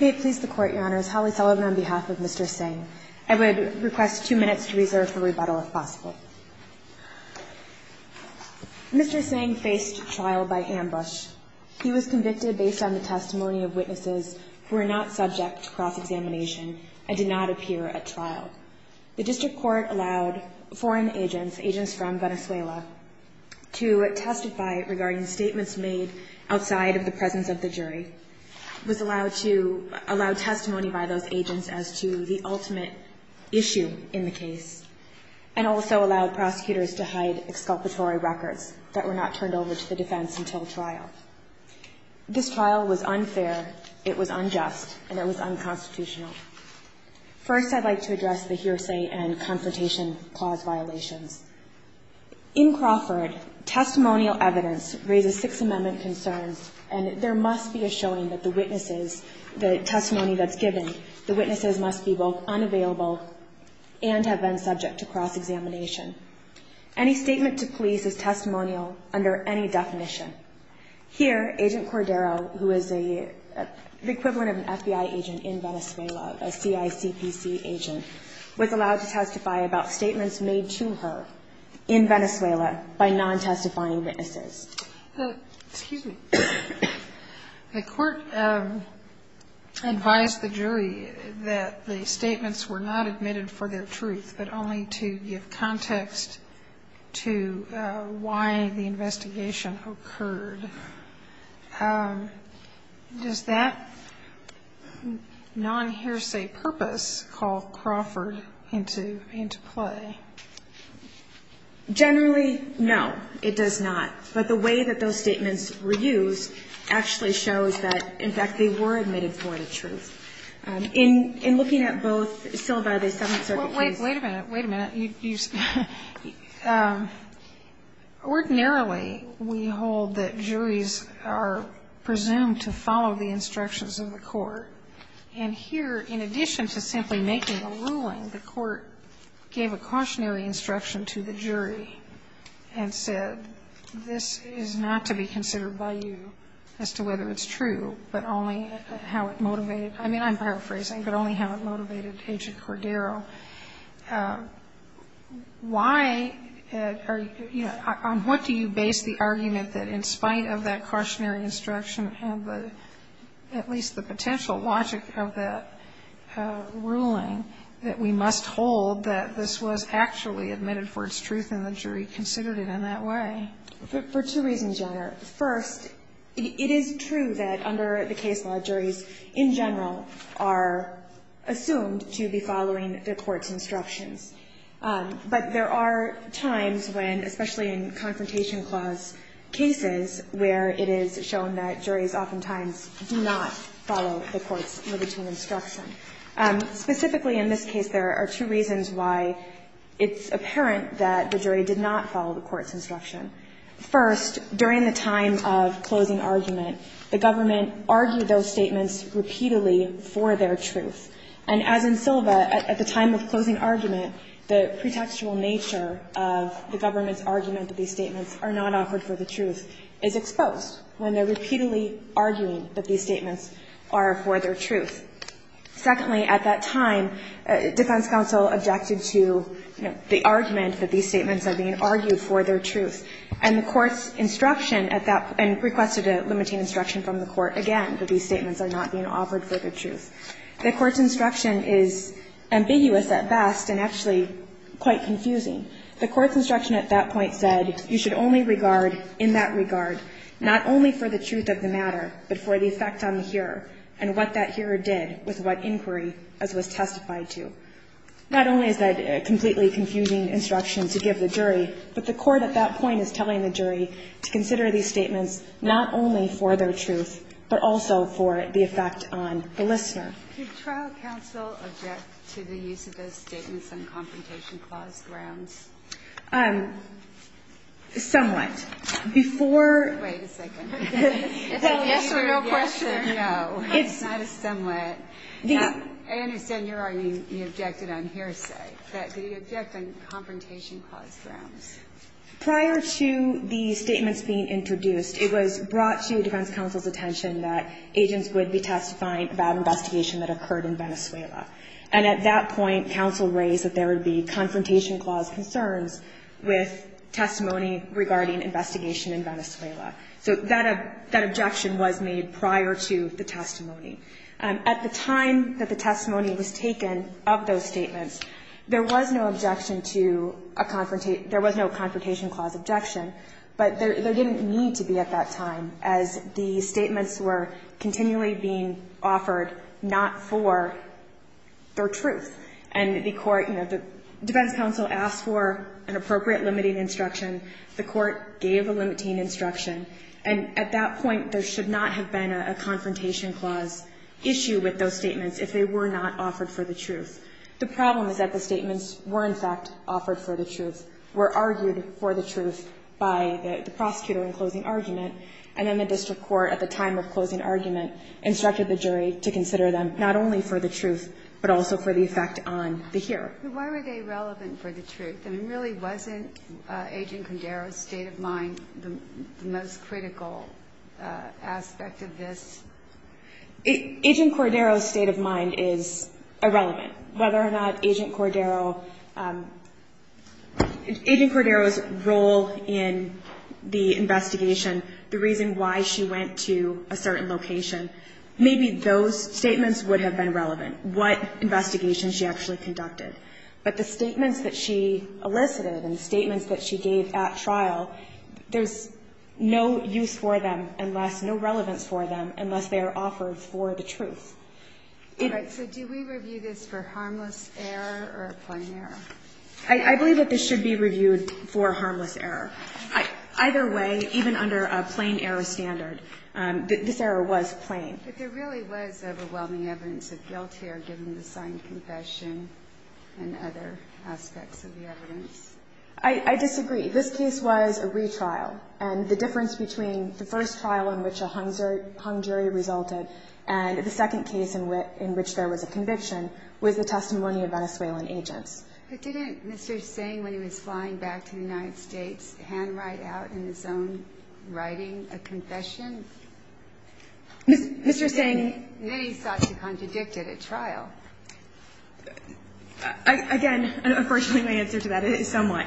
May it please the Court, Your Honors, Holly Sullivan on behalf of Mr. Tseng. I would request two minutes to reserve for rebuttal if possible. Mr. Tseng faced trial by ambush. He was convicted based on the testimony of witnesses who were not subject to cross-examination and did not appear at trial. The District Court allowed foreign agents, agents from Venezuela, to testify regarding statements made outside of the presence of the jury. It was allowed to allow testimony by those agents as to the ultimate issue in the case. And also allowed prosecutors to hide exculpatory records that were not turned over to the defense until trial. This trial was unfair, it was unjust, and it was unconstitutional. First, I'd like to address the hearsay and confrontation clause violations. In Crawford, testimonial evidence raises Sixth Amendment concerns, and there must be a showing that the witnesses, the testimony that's given, the witnesses must be both unavailable and have been subject to cross-examination. Any statement to police is testimonial under any definition. Here, Agent Cordero, who is the equivalent of an FBI agent in Venezuela, a CICPC agent, was allowed to testify about statements made to her in Venezuela by non-testifying witnesses. Excuse me. The Court advised the jury that the statements were not admitted for their truth, but only to give context to why the investigation occurred. And does that non-hearsay purpose call Crawford into play? Generally, no, it does not. But the way that those statements were used actually shows that, in fact, they were admitted for the truth. In looking at both syllabi of the Seventh Circuit case – Wait a minute, wait a minute. Ordinarily, we hold that juries are presumed to follow the instructions of the court. And here, in addition to simply making a ruling, the Court gave a cautionary instruction to the jury and said, this is not to be considered by you as to whether it's true, but only how it motivated – I mean, I'm paraphrasing – but only how it motivated Agent Cordero. Why are you – on what do you base the argument that, in spite of that cautionary instruction and the – at least the potential logic of that ruling, that we must hold that this was actually admitted for its truth and the jury considered For two reasons, Your Honor. First, it is true that under the case law, juries in general are assumed to be following the court's instructions. But there are times when, especially in Confrontation Clause cases, where it is shown that juries oftentimes do not follow the court's libertine instruction. Specifically in this case, there are two reasons why it's apparent that the jury did not follow the court's instruction. First, during the time of closing argument, the government argued those statements repeatedly for their truth. And as in Silva, at the time of closing argument, the pretextual nature of the government's argument that these statements are not offered for the truth is exposed when they're repeatedly arguing that these statements are for their truth. Secondly, at that time, defense counsel objected to, you know, the argument that these statements are for their truth, and the court's instruction at that point, and requested a limiting instruction from the court again that these statements are not being offered for their truth. The court's instruction is ambiguous at best and actually quite confusing. The court's instruction at that point said you should only regard in that regard not only for the truth of the matter, but for the effect on the hearer and what that hearer did with what inquiry as was testified to. Not only is that a completely confusing instruction to give the jury, but the court at that point is telling the jury to consider these statements not only for their truth, but also for the effect on the listener. Kagan. Could trial counsel object to the use of those statements on confrontation clause grounds? Somewhat. Before ---- Wait a second. Yes or no question? No. It's not a somewhat. I understand you're objecting on hearsay, but did he object on confrontation clause grounds? Prior to the statements being introduced, it was brought to defense counsel's attention that agents would be testifying about an investigation that occurred in Venezuela. And at that point, counsel raised that there would be confrontation clause concerns with testimony regarding investigation in Venezuela. So that objection was made prior to the testimony. At the time that the testimony was taken of those statements, there was no objection to a confrontation ---- there was no confrontation clause objection, but there didn't need to be at that time, as the statements were continually being offered not for their truth. And the court, you know, defense counsel asked for an appropriate limiting instruction. The court gave a limiting instruction. And at that point, there should not have been a confrontation clause issue with those statements if they were not offered for the truth. The problem is that the statements were, in fact, offered for the truth, were argued for the truth by the prosecutor in closing argument, and then the district court at the time of closing argument instructed the jury to consider them not only for the truth, but also for the effect on the hearer. But why were they relevant for the truth? I mean, really, wasn't Agent Cordero's state of mind the most critical aspect of this? Agent Cordero's state of mind is irrelevant. Whether or not Agent Cordero ---- Agent Cordero's role in the investigation, the reason why she went to a certain location, maybe those statements would have been relevant, what investigation she actually conducted. But the statements that she elicited and the statements that she gave at trial, there's no use for them unless ---- no relevance for them unless they are offered for the truth. It ---- All right. So do we review this for harmless error or plain error? I believe that this should be reviewed for harmless error. Either way, even under a plain error standard, this error was plain. But there really was overwhelming evidence of guilt here, given the signed confession. And other aspects of the evidence. I disagree. This case was a retrial. And the difference between the first trial in which a hung jury resulted and the second case in which there was a conviction was the testimony of Venezuelan agents. But didn't Mr. Singh, when he was flying back to the United States, handwrite out in his own writing a confession? Mr. Singh ---- Again, unfortunately, my answer to that is somewhat.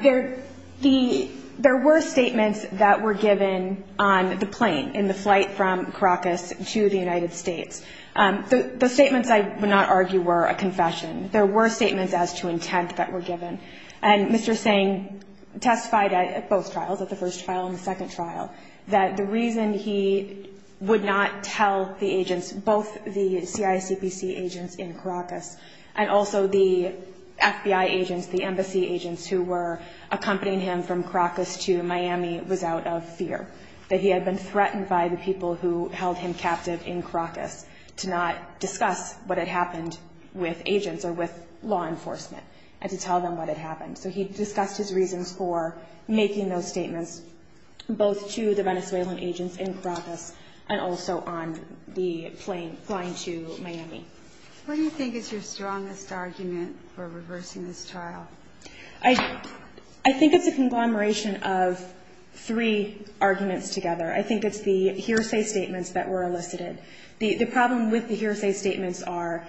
There were statements that were given on the plane, in the flight from Caracas to the United States. The statements, I would not argue, were a confession. There were statements as to intent that were given. And Mr. Singh testified at both trials, at the first trial and the second trial, that the reason he would not tell the agents, both the CICPC agents in Caracas and also the FBI agents, the embassy agents who were accompanying him from Caracas to Miami, was out of fear. That he had been threatened by the people who held him captive in Caracas to not discuss what had happened with agents or with law enforcement and to tell them what had happened. So he discussed his reasons for making those statements, both to the Venezuelan agents in Caracas and also on the plane, flying to Miami. What do you think is your strongest argument for reversing this trial? I think it's a conglomeration of three arguments together. I think it's the hearsay statements that were elicited. The problem with the hearsay statements are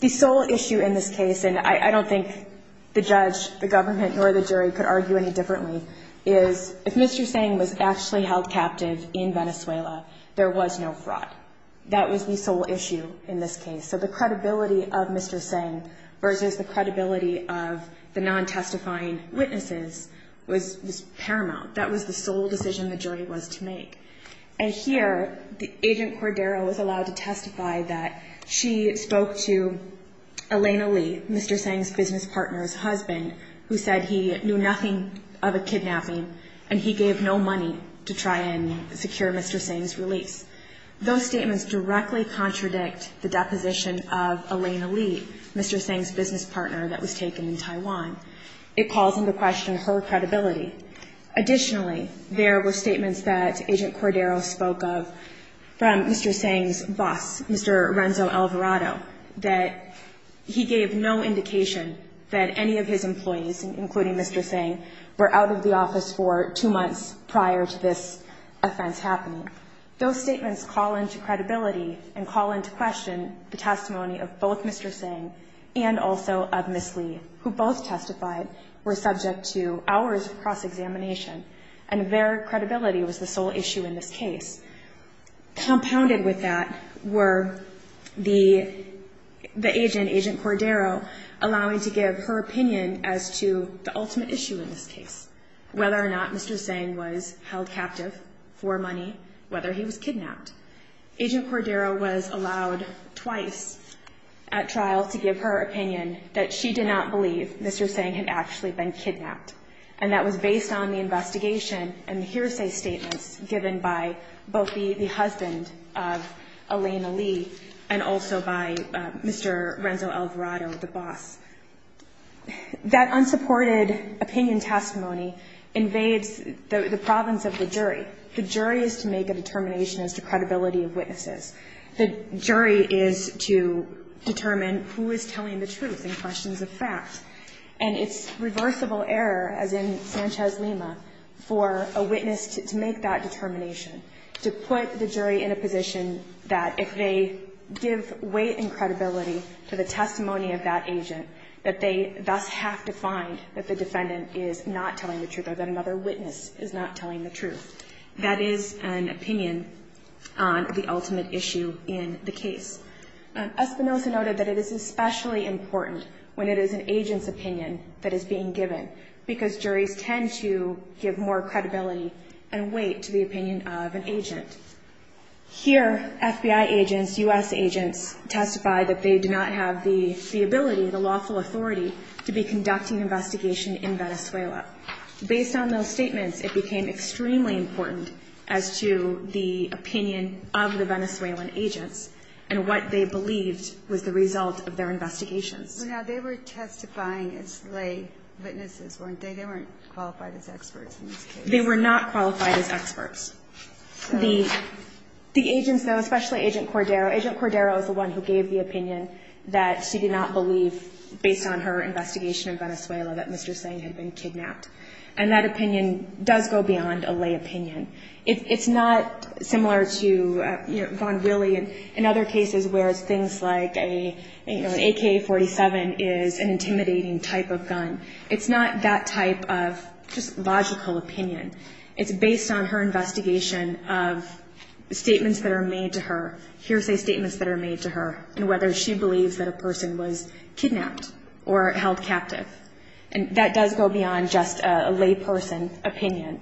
the sole issue in this case, and I don't think the judge, the government, nor the jury could argue any differently, is if Mr. Singh was actually held captive in Venezuela, there was no fraud. That was the sole issue in this case. So the credibility of Mr. Singh versus the credibility of the non-testifying witnesses was paramount. That was the sole decision the jury was to make. And here, Agent Cordero was allowed to testify that she spoke to Elena Lee, Mr. Singh's business partner's husband, who said he knew nothing of a kidnapping and he gave no money to try and secure Mr. Singh's release. Those statements directly contradict the deposition of Elena Lee, Mr. Singh's business partner that was taken in Taiwan. It calls into question her credibility. Additionally, there were statements that Agent Cordero spoke of from Mr. Alvarado, that he gave no indication that any of his employees, including Mr. Singh, were out of the office for two months prior to this offense happening. Those statements call into credibility and call into question the testimony of both Mr. Singh and also of Ms. Lee, who both testified were subject to hours of cross-examination, and their credibility was the sole issue in this case. Compounded with that were the agent, Agent Cordero, allowing to give her opinion as to the ultimate issue in this case, whether or not Mr. Singh was held captive for money, whether he was kidnapped. Agent Cordero was allowed twice at trial to give her opinion that she did not believe Mr. Singh had actually been kidnapped, and that was based on the testimony of both the husband of Elena Lee and also by Mr. Renzo Alvarado, the boss. That unsupported opinion testimony invades the province of the jury. The jury is to make a determination as to credibility of witnesses. The jury is to determine who is telling the truth in questions of facts. And it's reversible error, as in Sanchez-Lima, for a witness to make that decision, to put the jury in a position that if they give weight and credibility to the testimony of that agent, that they thus have to find that the defendant is not telling the truth or that another witness is not telling the truth. That is an opinion on the ultimate issue in the case. Espinosa noted that it is especially important when it is an agent's opinion that is being given, because juries tend to give more credibility and weight to the opinion of an agent. Here, FBI agents, U.S. agents, testify that they do not have the ability, the lawful authority, to be conducting an investigation in Venezuela. Based on those statements, it became extremely important as to the opinion of the Venezuelan agents and what they believed was the result of their investigations. Now, they were testifying as lay witnesses, weren't they? They weren't qualified as experts in this case. They were not qualified as experts. The agents, though, especially Agent Cordero, Agent Cordero is the one who gave the opinion that she did not believe, based on her investigation in Venezuela, that Mr. Tseng had been kidnapped. And that opinion does go beyond a lay opinion. It's not similar to, you know, Von Wille in other cases, whereas things like, It's not that type of just logical opinion. It's based on her investigation of statements that are made to her, hearsay statements that are made to her, and whether she believes that a person was kidnapped or held captive. And that does go beyond just a lay person opinion.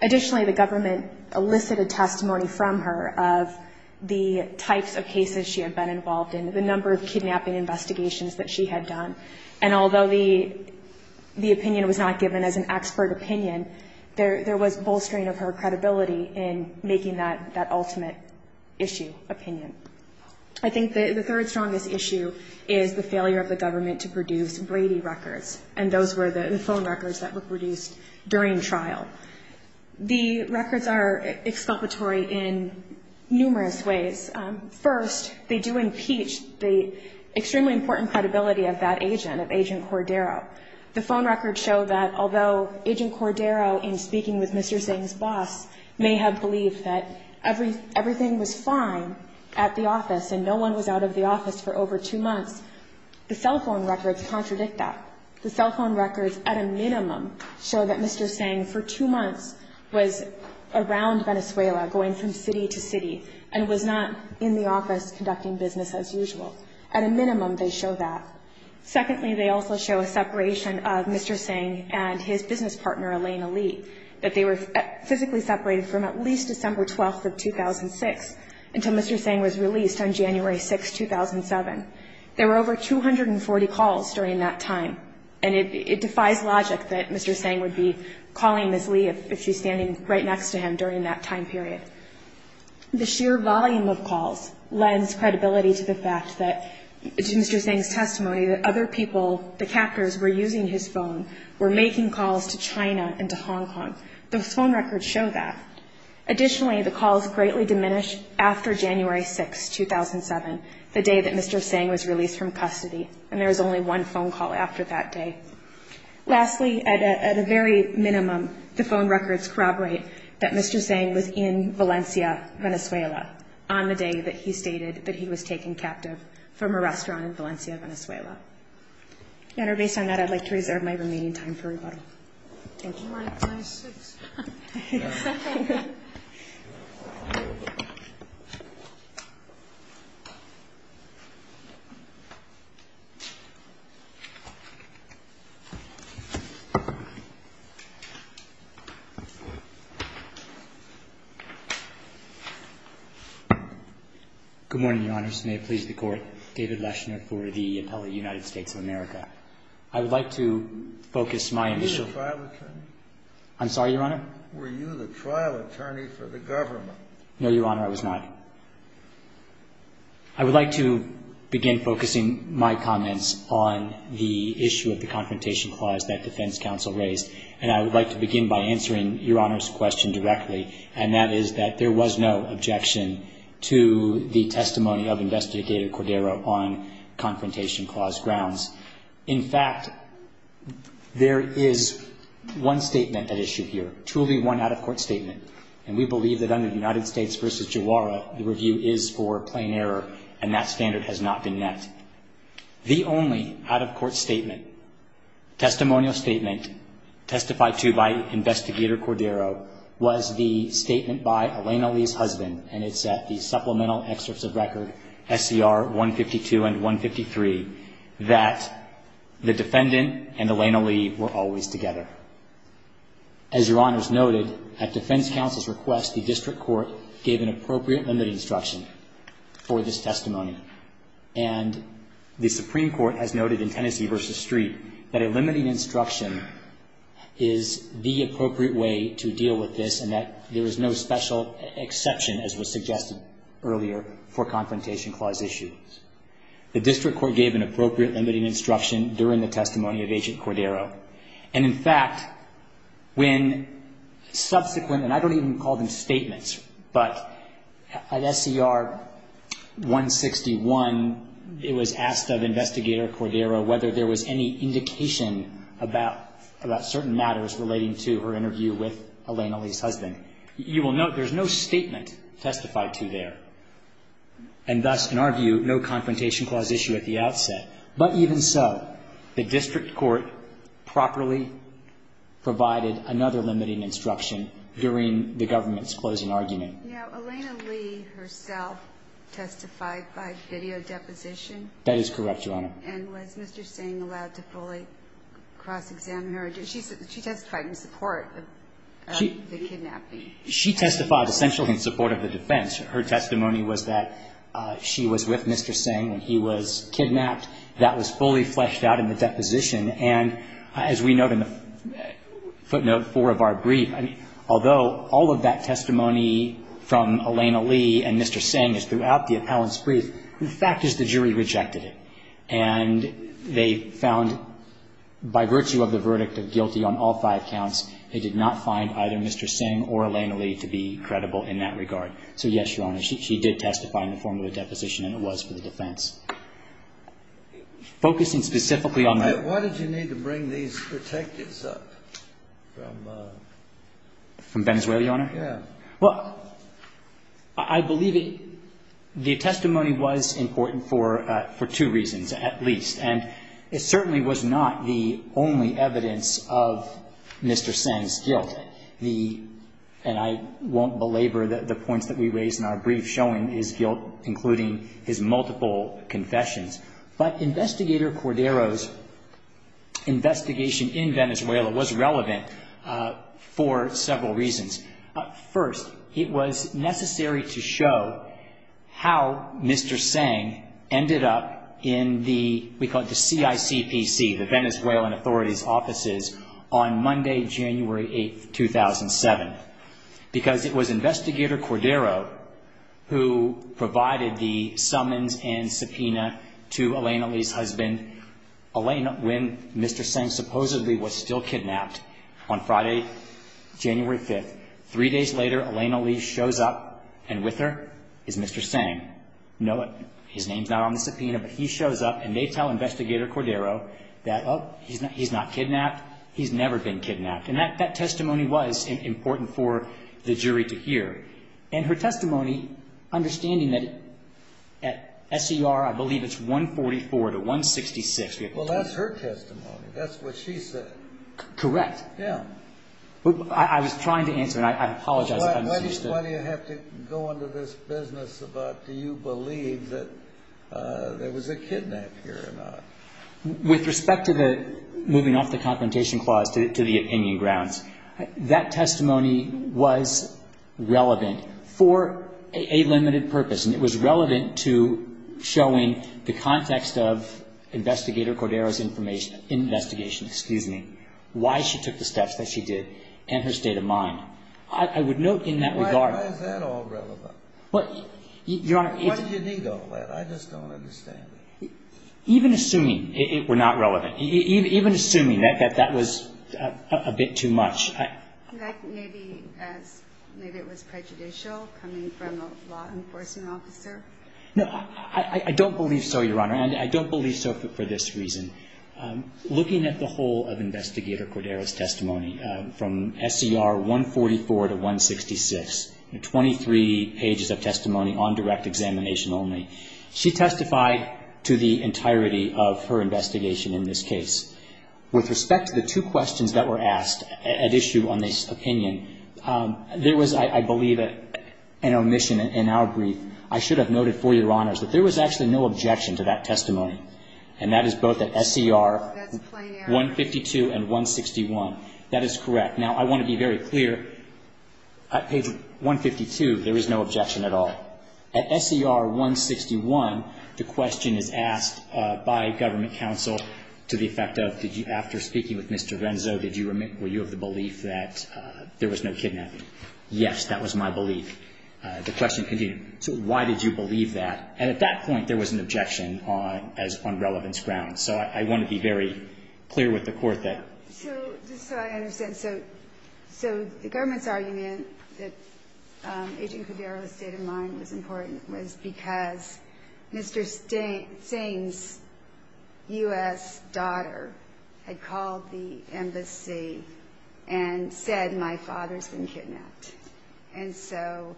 Additionally, the government elicited testimony from her of the types of cases she had been involved in, the number of kidnapping investigations that she had done. And although the opinion was not given as an expert opinion, there was bolstering of her credibility in making that ultimate issue, opinion. I think the third strongest issue is the failure of the government to produce Brady records, and those were the phone records that were produced during trial. The records are exculpatory in numerous ways. First, they do impeach the extremely important credibility of that agent, of Agent Cordero. The phone records show that although Agent Cordero, in speaking with Mr. Tseng's boss, may have believed that everything was fine at the office and no one was out of the office for over two months, the cell phone records contradict that. The cell phone records, at a minimum, show that Mr. Tseng for two months was around Venezuela, going from city to city, and was not in the office conducting business as usual. At a minimum, they show that. Secondly, they also show a separation of Mr. Tseng and his business partner, Elena Lee, that they were physically separated from at least December 12th of 2006 until Mr. Tseng was released on January 6th, 2007. There were over 240 calls during that time, and it defies logic that Mr. Tseng would be calling Ms. Lee if she's standing right next to him during that time period. The sheer volume of calls lends credibility to the fact that, to Mr. Tseng's testimony, that other people, the captors were using his phone, were making calls to China and to Hong Kong. The phone records show that. Additionally, the calls greatly diminished after January 6th, 2007, the day that Mr. Tseng was released from custody, and there was only one phone call after that day. Lastly, at a very minimum, the phone records corroborate that Mr. Tseng was in Valencia, Venezuela, on the day that he stated that he was taken captive from a restaurant in Valencia, Venezuela. Your Honor, based on that, I'd like to reserve my remaining time for rebuttal. Thank you. Good morning, Your Honors. May it please the Court, David Leshner for the appellate United States of America. I would like to focus my initial Were you the trial attorney? I'm sorry, Your Honor? Were you the trial attorney for the government? No, Your Honor, I was not. I would like to begin focusing my comments on the issue of the confrontation clause that defense counsel raised, and I would like to begin by answering Your Honor's question directly, and that is that there was no objection to the testimony of Investigator Cordero on confrontation clause grounds. In fact, there is one statement at issue here, truly one out-of-court statement, and we believe that under the United States v. Jawara, the review is for plain error, and that standard has not been met. The only out-of-court statement, testimonial statement, testified to by Investigator Cordero was the statement by Elena Lee's husband, and it's at the supplemental excerpts of record SCR 152 and 153, that the defendant and Elena Lee were always together. As Your Honors noted, at defense counsel's request, the district court gave an appropriate limiting instruction for this testimony, and the Supreme Court has noted in Tennessee v. Street that a limiting instruction is the appropriate way to deal with this, and that there is no special exception, as was suggested earlier, for confrontation clause issues. The district court gave an appropriate limiting instruction during the testimony of Agent Cordero, and in fact, when subsequent, and I don't even call them statements, but at SCR 161, it was asked of Investigator Cordero whether there was any indication about certain matters relating to her interview with Elena Lee's husband. You will note there's no statement testified to there, and thus, in our view, no confrontation clause issue at the outset, but even so, the district court properly provided another limiting instruction during the government's closing argument. Now, Elena Lee herself testified by video deposition. That is correct, Your Honor. And was Mr. Singh allowed to fully cross-examine her? She testified in support of the kidnapping. She testified essentially in support of the defense. Her testimony was that she was with Mr. Singh when he was kidnapped. That was fully fleshed out in the deposition, and as we note in the footnote four of our brief, although all of that testimony from Elena Lee and Mr. Singh is throughout the appellant's brief, the fact is the jury rejected it, and they found by virtue of the verdict of guilty on all five counts, they did not find either Mr. Singh or Elena Lee to be credible in that regard. So, yes, Your Honor, she did testify in the form of a deposition, and it was for the defense. Focusing specifically on the ---- Why did you need to bring these detectives up from ---- From Venezuela, Your Honor? Yes. Well, I believe the testimony was important for two reasons at least, and it certainly was not the only evidence of Mr. Singh's guilt. The ---- and I won't belabor the points that we raised in our brief showing his guilt, including his multiple confessions, but Investigator Cordero's investigation in Venezuela was relevant for several reasons. First, it was necessary to show how Mr. Singh ended up in the, we call it the CICPC, the Venezuelan authorities' offices, on Monday, January 8, 2007, because it was Investigator Cordero who provided the summons and subpoena to Elena Lee's husband, when Mr. Singh supposedly was still kidnapped, on Friday, January 5. Three days later, Elena Lee shows up, and with her is Mr. Singh. His name's not on the subpoena, but he shows up, and they tell Investigator Cordero that, oh, he's not kidnapped, he's never been kidnapped. And that testimony was important for the jury to hear. And her testimony, understanding that at SER, I believe it's 144 to 166. Well, that's her testimony. That's what she said. Correct. Yeah. I was trying to answer, and I apologize if I misunderstood. Why do you have to go into this business about do you believe that there was a kidnap here or not? With respect to the moving off the confrontation clause to the opinion grounds, that testimony was relevant for a limited purpose, and it was relevant to showing the context of Investigator Cordero's information or investigation, excuse me, why she took the steps that she did and her state of mind. I would note in that regard. Why is that all relevant? Your Honor, if you need all that, I just don't understand it. Even assuming it were not relevant, even assuming that that was a bit too much. Maybe it was prejudicial coming from a law enforcement officer. No, I don't believe so, Your Honor, and I don't believe so for this reason. Looking at the whole of Investigator Cordero's testimony from SER 144 to 166, 23 pages of testimony on direct examination only, she testified to the entirety of her investigation in this case. With respect to the two questions that were asked at issue on this opinion, there was, I believe, an omission in our brief. I should have noted for Your Honors that there was actually no objection to that testimony, and that is both at SER 152 and 161. That is correct. Now, I want to be very clear. At page 152, there is no objection at all. At SER 161, the question is asked by government counsel to the effect of, did you – after speaking with Mr. Venzo, did you – were you of the belief that there was no kidnapping? Yes, that was my belief. The question continued. So why did you believe that? And at that point, there was an objection on – as on relevance grounds. So I want to be very clear with the Court that – So just so I understand. So the government's argument that Agent Cordero's state of mind was important was because Mr. Singh's U.S. daughter had called the embassy and said, my father's been kidnapped. And so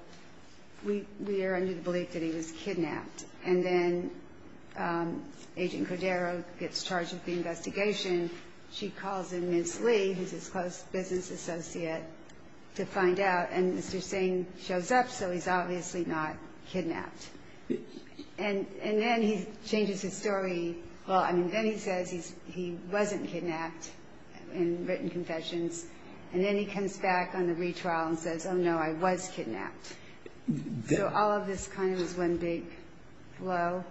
we are under the belief that he was kidnapped. And then Agent Cordero gets charged with the investigation. She calls in Ms. Lee, who's his close business associate, to find out. And Mr. Singh shows up, so he's obviously not kidnapped. And then he changes his story. Well, I mean, then he says he wasn't kidnapped in written confessions. And then he comes back on the retrial and says, oh, no, I was kidnapped. So all of this kind of is one big blow.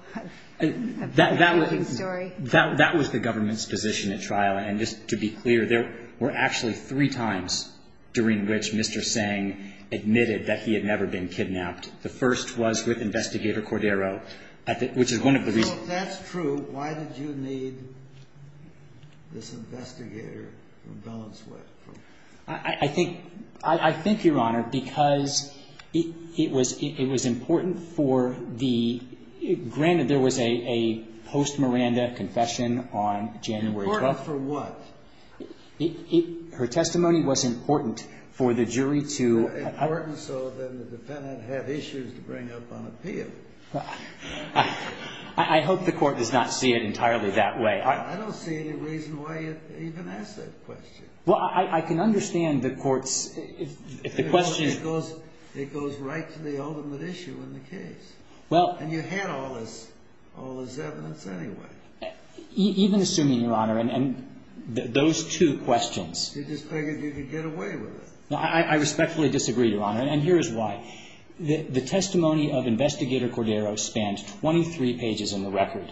That was the government's position. It was the government's position at trial. And just to be clear, there were actually three times during which Mr. Singh admitted that he had never been kidnapped. The first was with Investigator Cordero, which is one of the reasons. So if that's true, why did you need this investigator from Delaware? I think, Your Honor, because it was important for the – Important for what? Her testimony was important for the jury to – Important so that the defendant had issues to bring up on appeal. I hope the Court does not see it entirely that way. I don't see any reason why you'd even ask that question. Well, I can understand the Court's – if the question – It goes right to the ultimate issue in the case. And you had all this evidence anyway. Even assuming, Your Honor, and those two questions – Did the defendant get away with it? I respectfully disagree, Your Honor, and here is why. The testimony of Investigator Cordero spanned 23 pages in the record.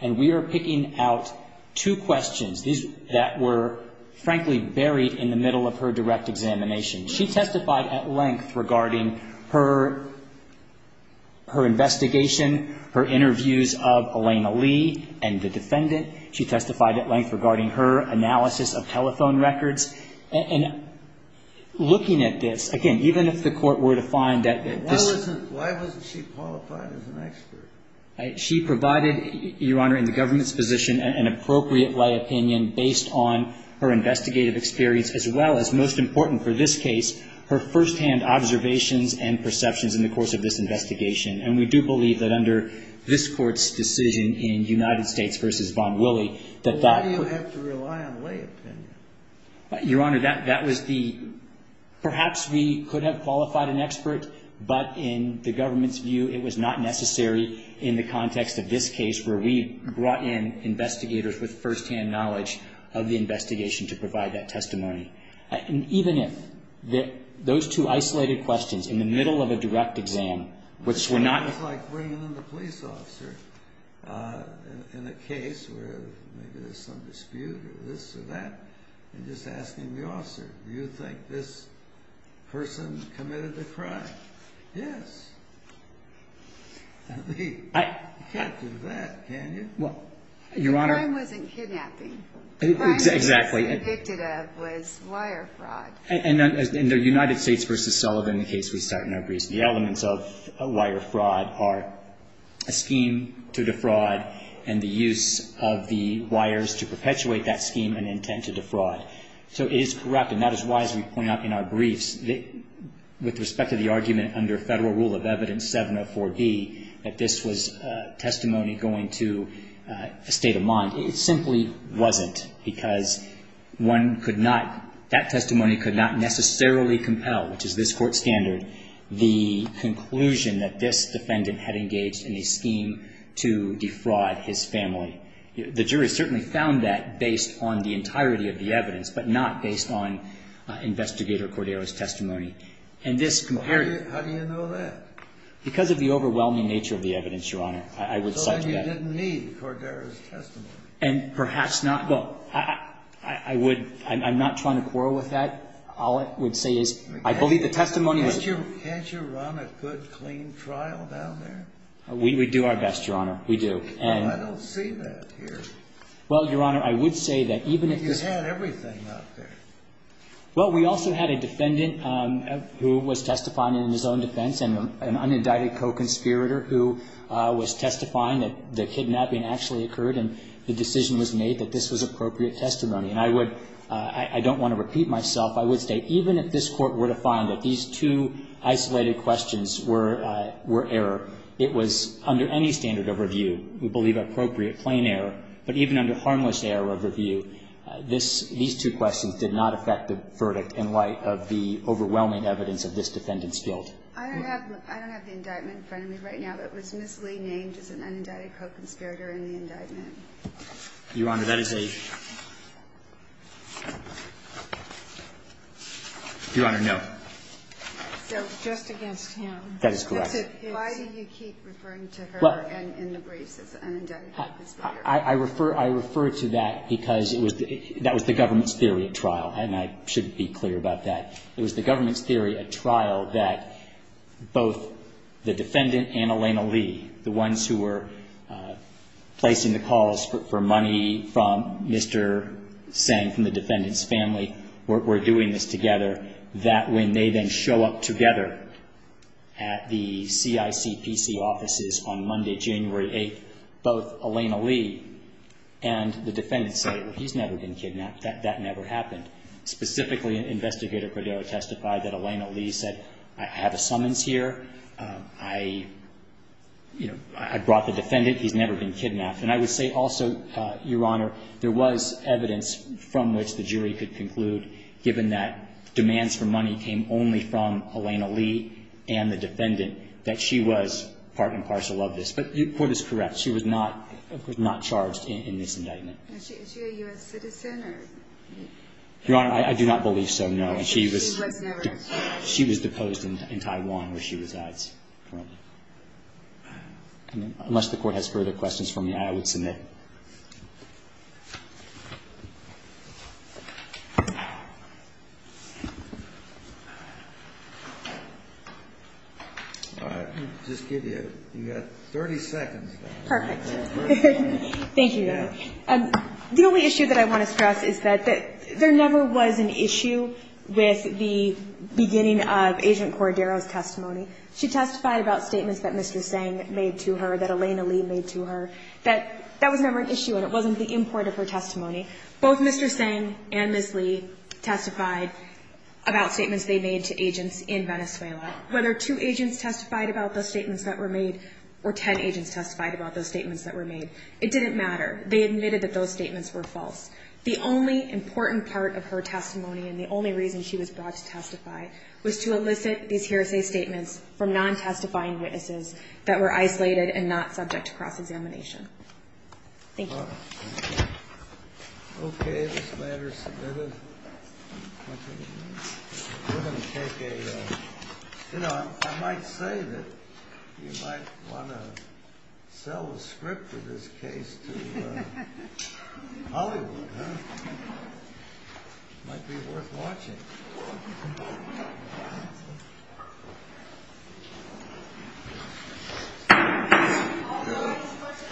And we are picking out two questions that were, frankly, buried in the middle of her direct examination. She testified at length regarding her investigation, her interviews of Elena Lee and the defendant. She testified at length regarding her analysis of telephone records. And looking at this, again, even if the Court were to find that this – Why wasn't she qualified as an expert? She provided, Your Honor, in the government's position, an appropriate lay opinion based on her investigative experience, as well as, most important for this case, her firsthand observations and perceptions in the course of this investigation. And we do believe that under this Court's decision in United States v. Von Willey, that that – Why do you have to rely on lay opinion? Your Honor, that was the – perhaps we could have qualified an expert, but in the government's view it was not necessary in the context of this case where we brought in investigators with firsthand knowledge of the investigation to provide that testimony. And even if those two isolated questions in the middle of a direct exam which were not – It's like bringing in the police officer in a case where maybe there's some dispute or this or that, and just asking the officer, do you think this person committed a crime? Yes. You can't do that, can you? Well, Your Honor – The crime wasn't kidnapping. Exactly. The crime she was convicted of was wire fraud. And in the United States v. Sullivan case we start in our briefs, the elements of wire fraud are a scheme to defraud and the use of the wires to perpetuate that scheme and intent to defraud. So it is correct, and that is why, as we point out in our briefs, with respect to the argument under Federal Rule of Evidence 704B that this was testimony going to a state of mind. Well, it simply wasn't, because one could not – that testimony could not necessarily compel, which is this Court standard, the conclusion that this defendant had engaged in a scheme to defraud his family. The jury certainly found that based on the entirety of the evidence, but not based on Investigator Cordero's testimony. And this – How do you know that? Because of the overwhelming nature of the evidence, Your Honor. So then you didn't need Cordero's testimony. And perhaps not, but I would – I'm not trying to quarrel with that. All I would say is I believe the testimony was – Can't you run a good, clean trial down there? We do our best, Your Honor. We do. I don't see that here. Well, Your Honor, I would say that even if this – You had everything out there. Well, we also had a defendant who was testifying in his own defense, an unindicted co-conspirator who was testifying that the kidnapping actually occurred and the decision was made that this was appropriate testimony. And I would – I don't want to repeat myself. I would say even if this Court were to find that these two isolated questions were error, it was, under any standard of review, we believe appropriate, plain error. But even under harmless error of review, these two questions did not affect the verdict in light of the overwhelming evidence of this defendant's guilt. I don't have the indictment in front of me right now, but was Ms. Lee named as an unindicted co-conspirator in the indictment? Your Honor, that is a – Your Honor, no. So just against him. That is correct. Why do you keep referring to her in the briefs as an unindicted co-conspirator? I refer to that because it was – that was the government's theory at trial, and I should be clear about that. It was the government's theory at trial that both the defendant and Elena Lee, the ones who were placing the calls for money from Mr. Sang from the defendant's family were doing this together, that when they then show up together at the CICPC offices on Monday, January 8th, both Elena Lee and the defendant say, well, he's never been kidnapped, that never happened. Specifically, Investigator Cordero testified that Elena Lee said, I have a summons here. I brought the defendant. He's never been kidnapped. And I would say also, Your Honor, there was evidence from which the jury could conclude, given that demands for money came only from Elena Lee and the defendant, that she was part and parcel of this. But your quote is correct. She was not charged in this indictment. Is she a U.S. citizen? Your Honor, I do not believe so, no. She was deposed in Taiwan where she resides. Unless the Court has further questions for me, I would submit. All right. I'll just give you – you've got 30 seconds. Perfect. Thank you, Your Honor. The only issue that I want to stress is that there never was an issue with the beginning of Agent Cordero's testimony. She testified about statements that Mr. Tseng made to her, that Elena Lee made to her. That was never an issue, and it wasn't the import of her testimony. Both Mr. Tseng and Ms. Lee testified about statements they made to agents in Venezuela. Whether two agents testified about the statements that were made or ten agents testified about those statements that were made, it didn't matter. They admitted that those statements were false. The only important part of her testimony and the only reason she was brought to testify was to elicit these hearsay statements from non-testifying witnesses that were isolated and not subject to cross-examination. Thank you. Okay. This matter is submitted. We're going to take a – you know, I might say that you might want to sell a script for this case to Hollywood, huh? It might be worth watching.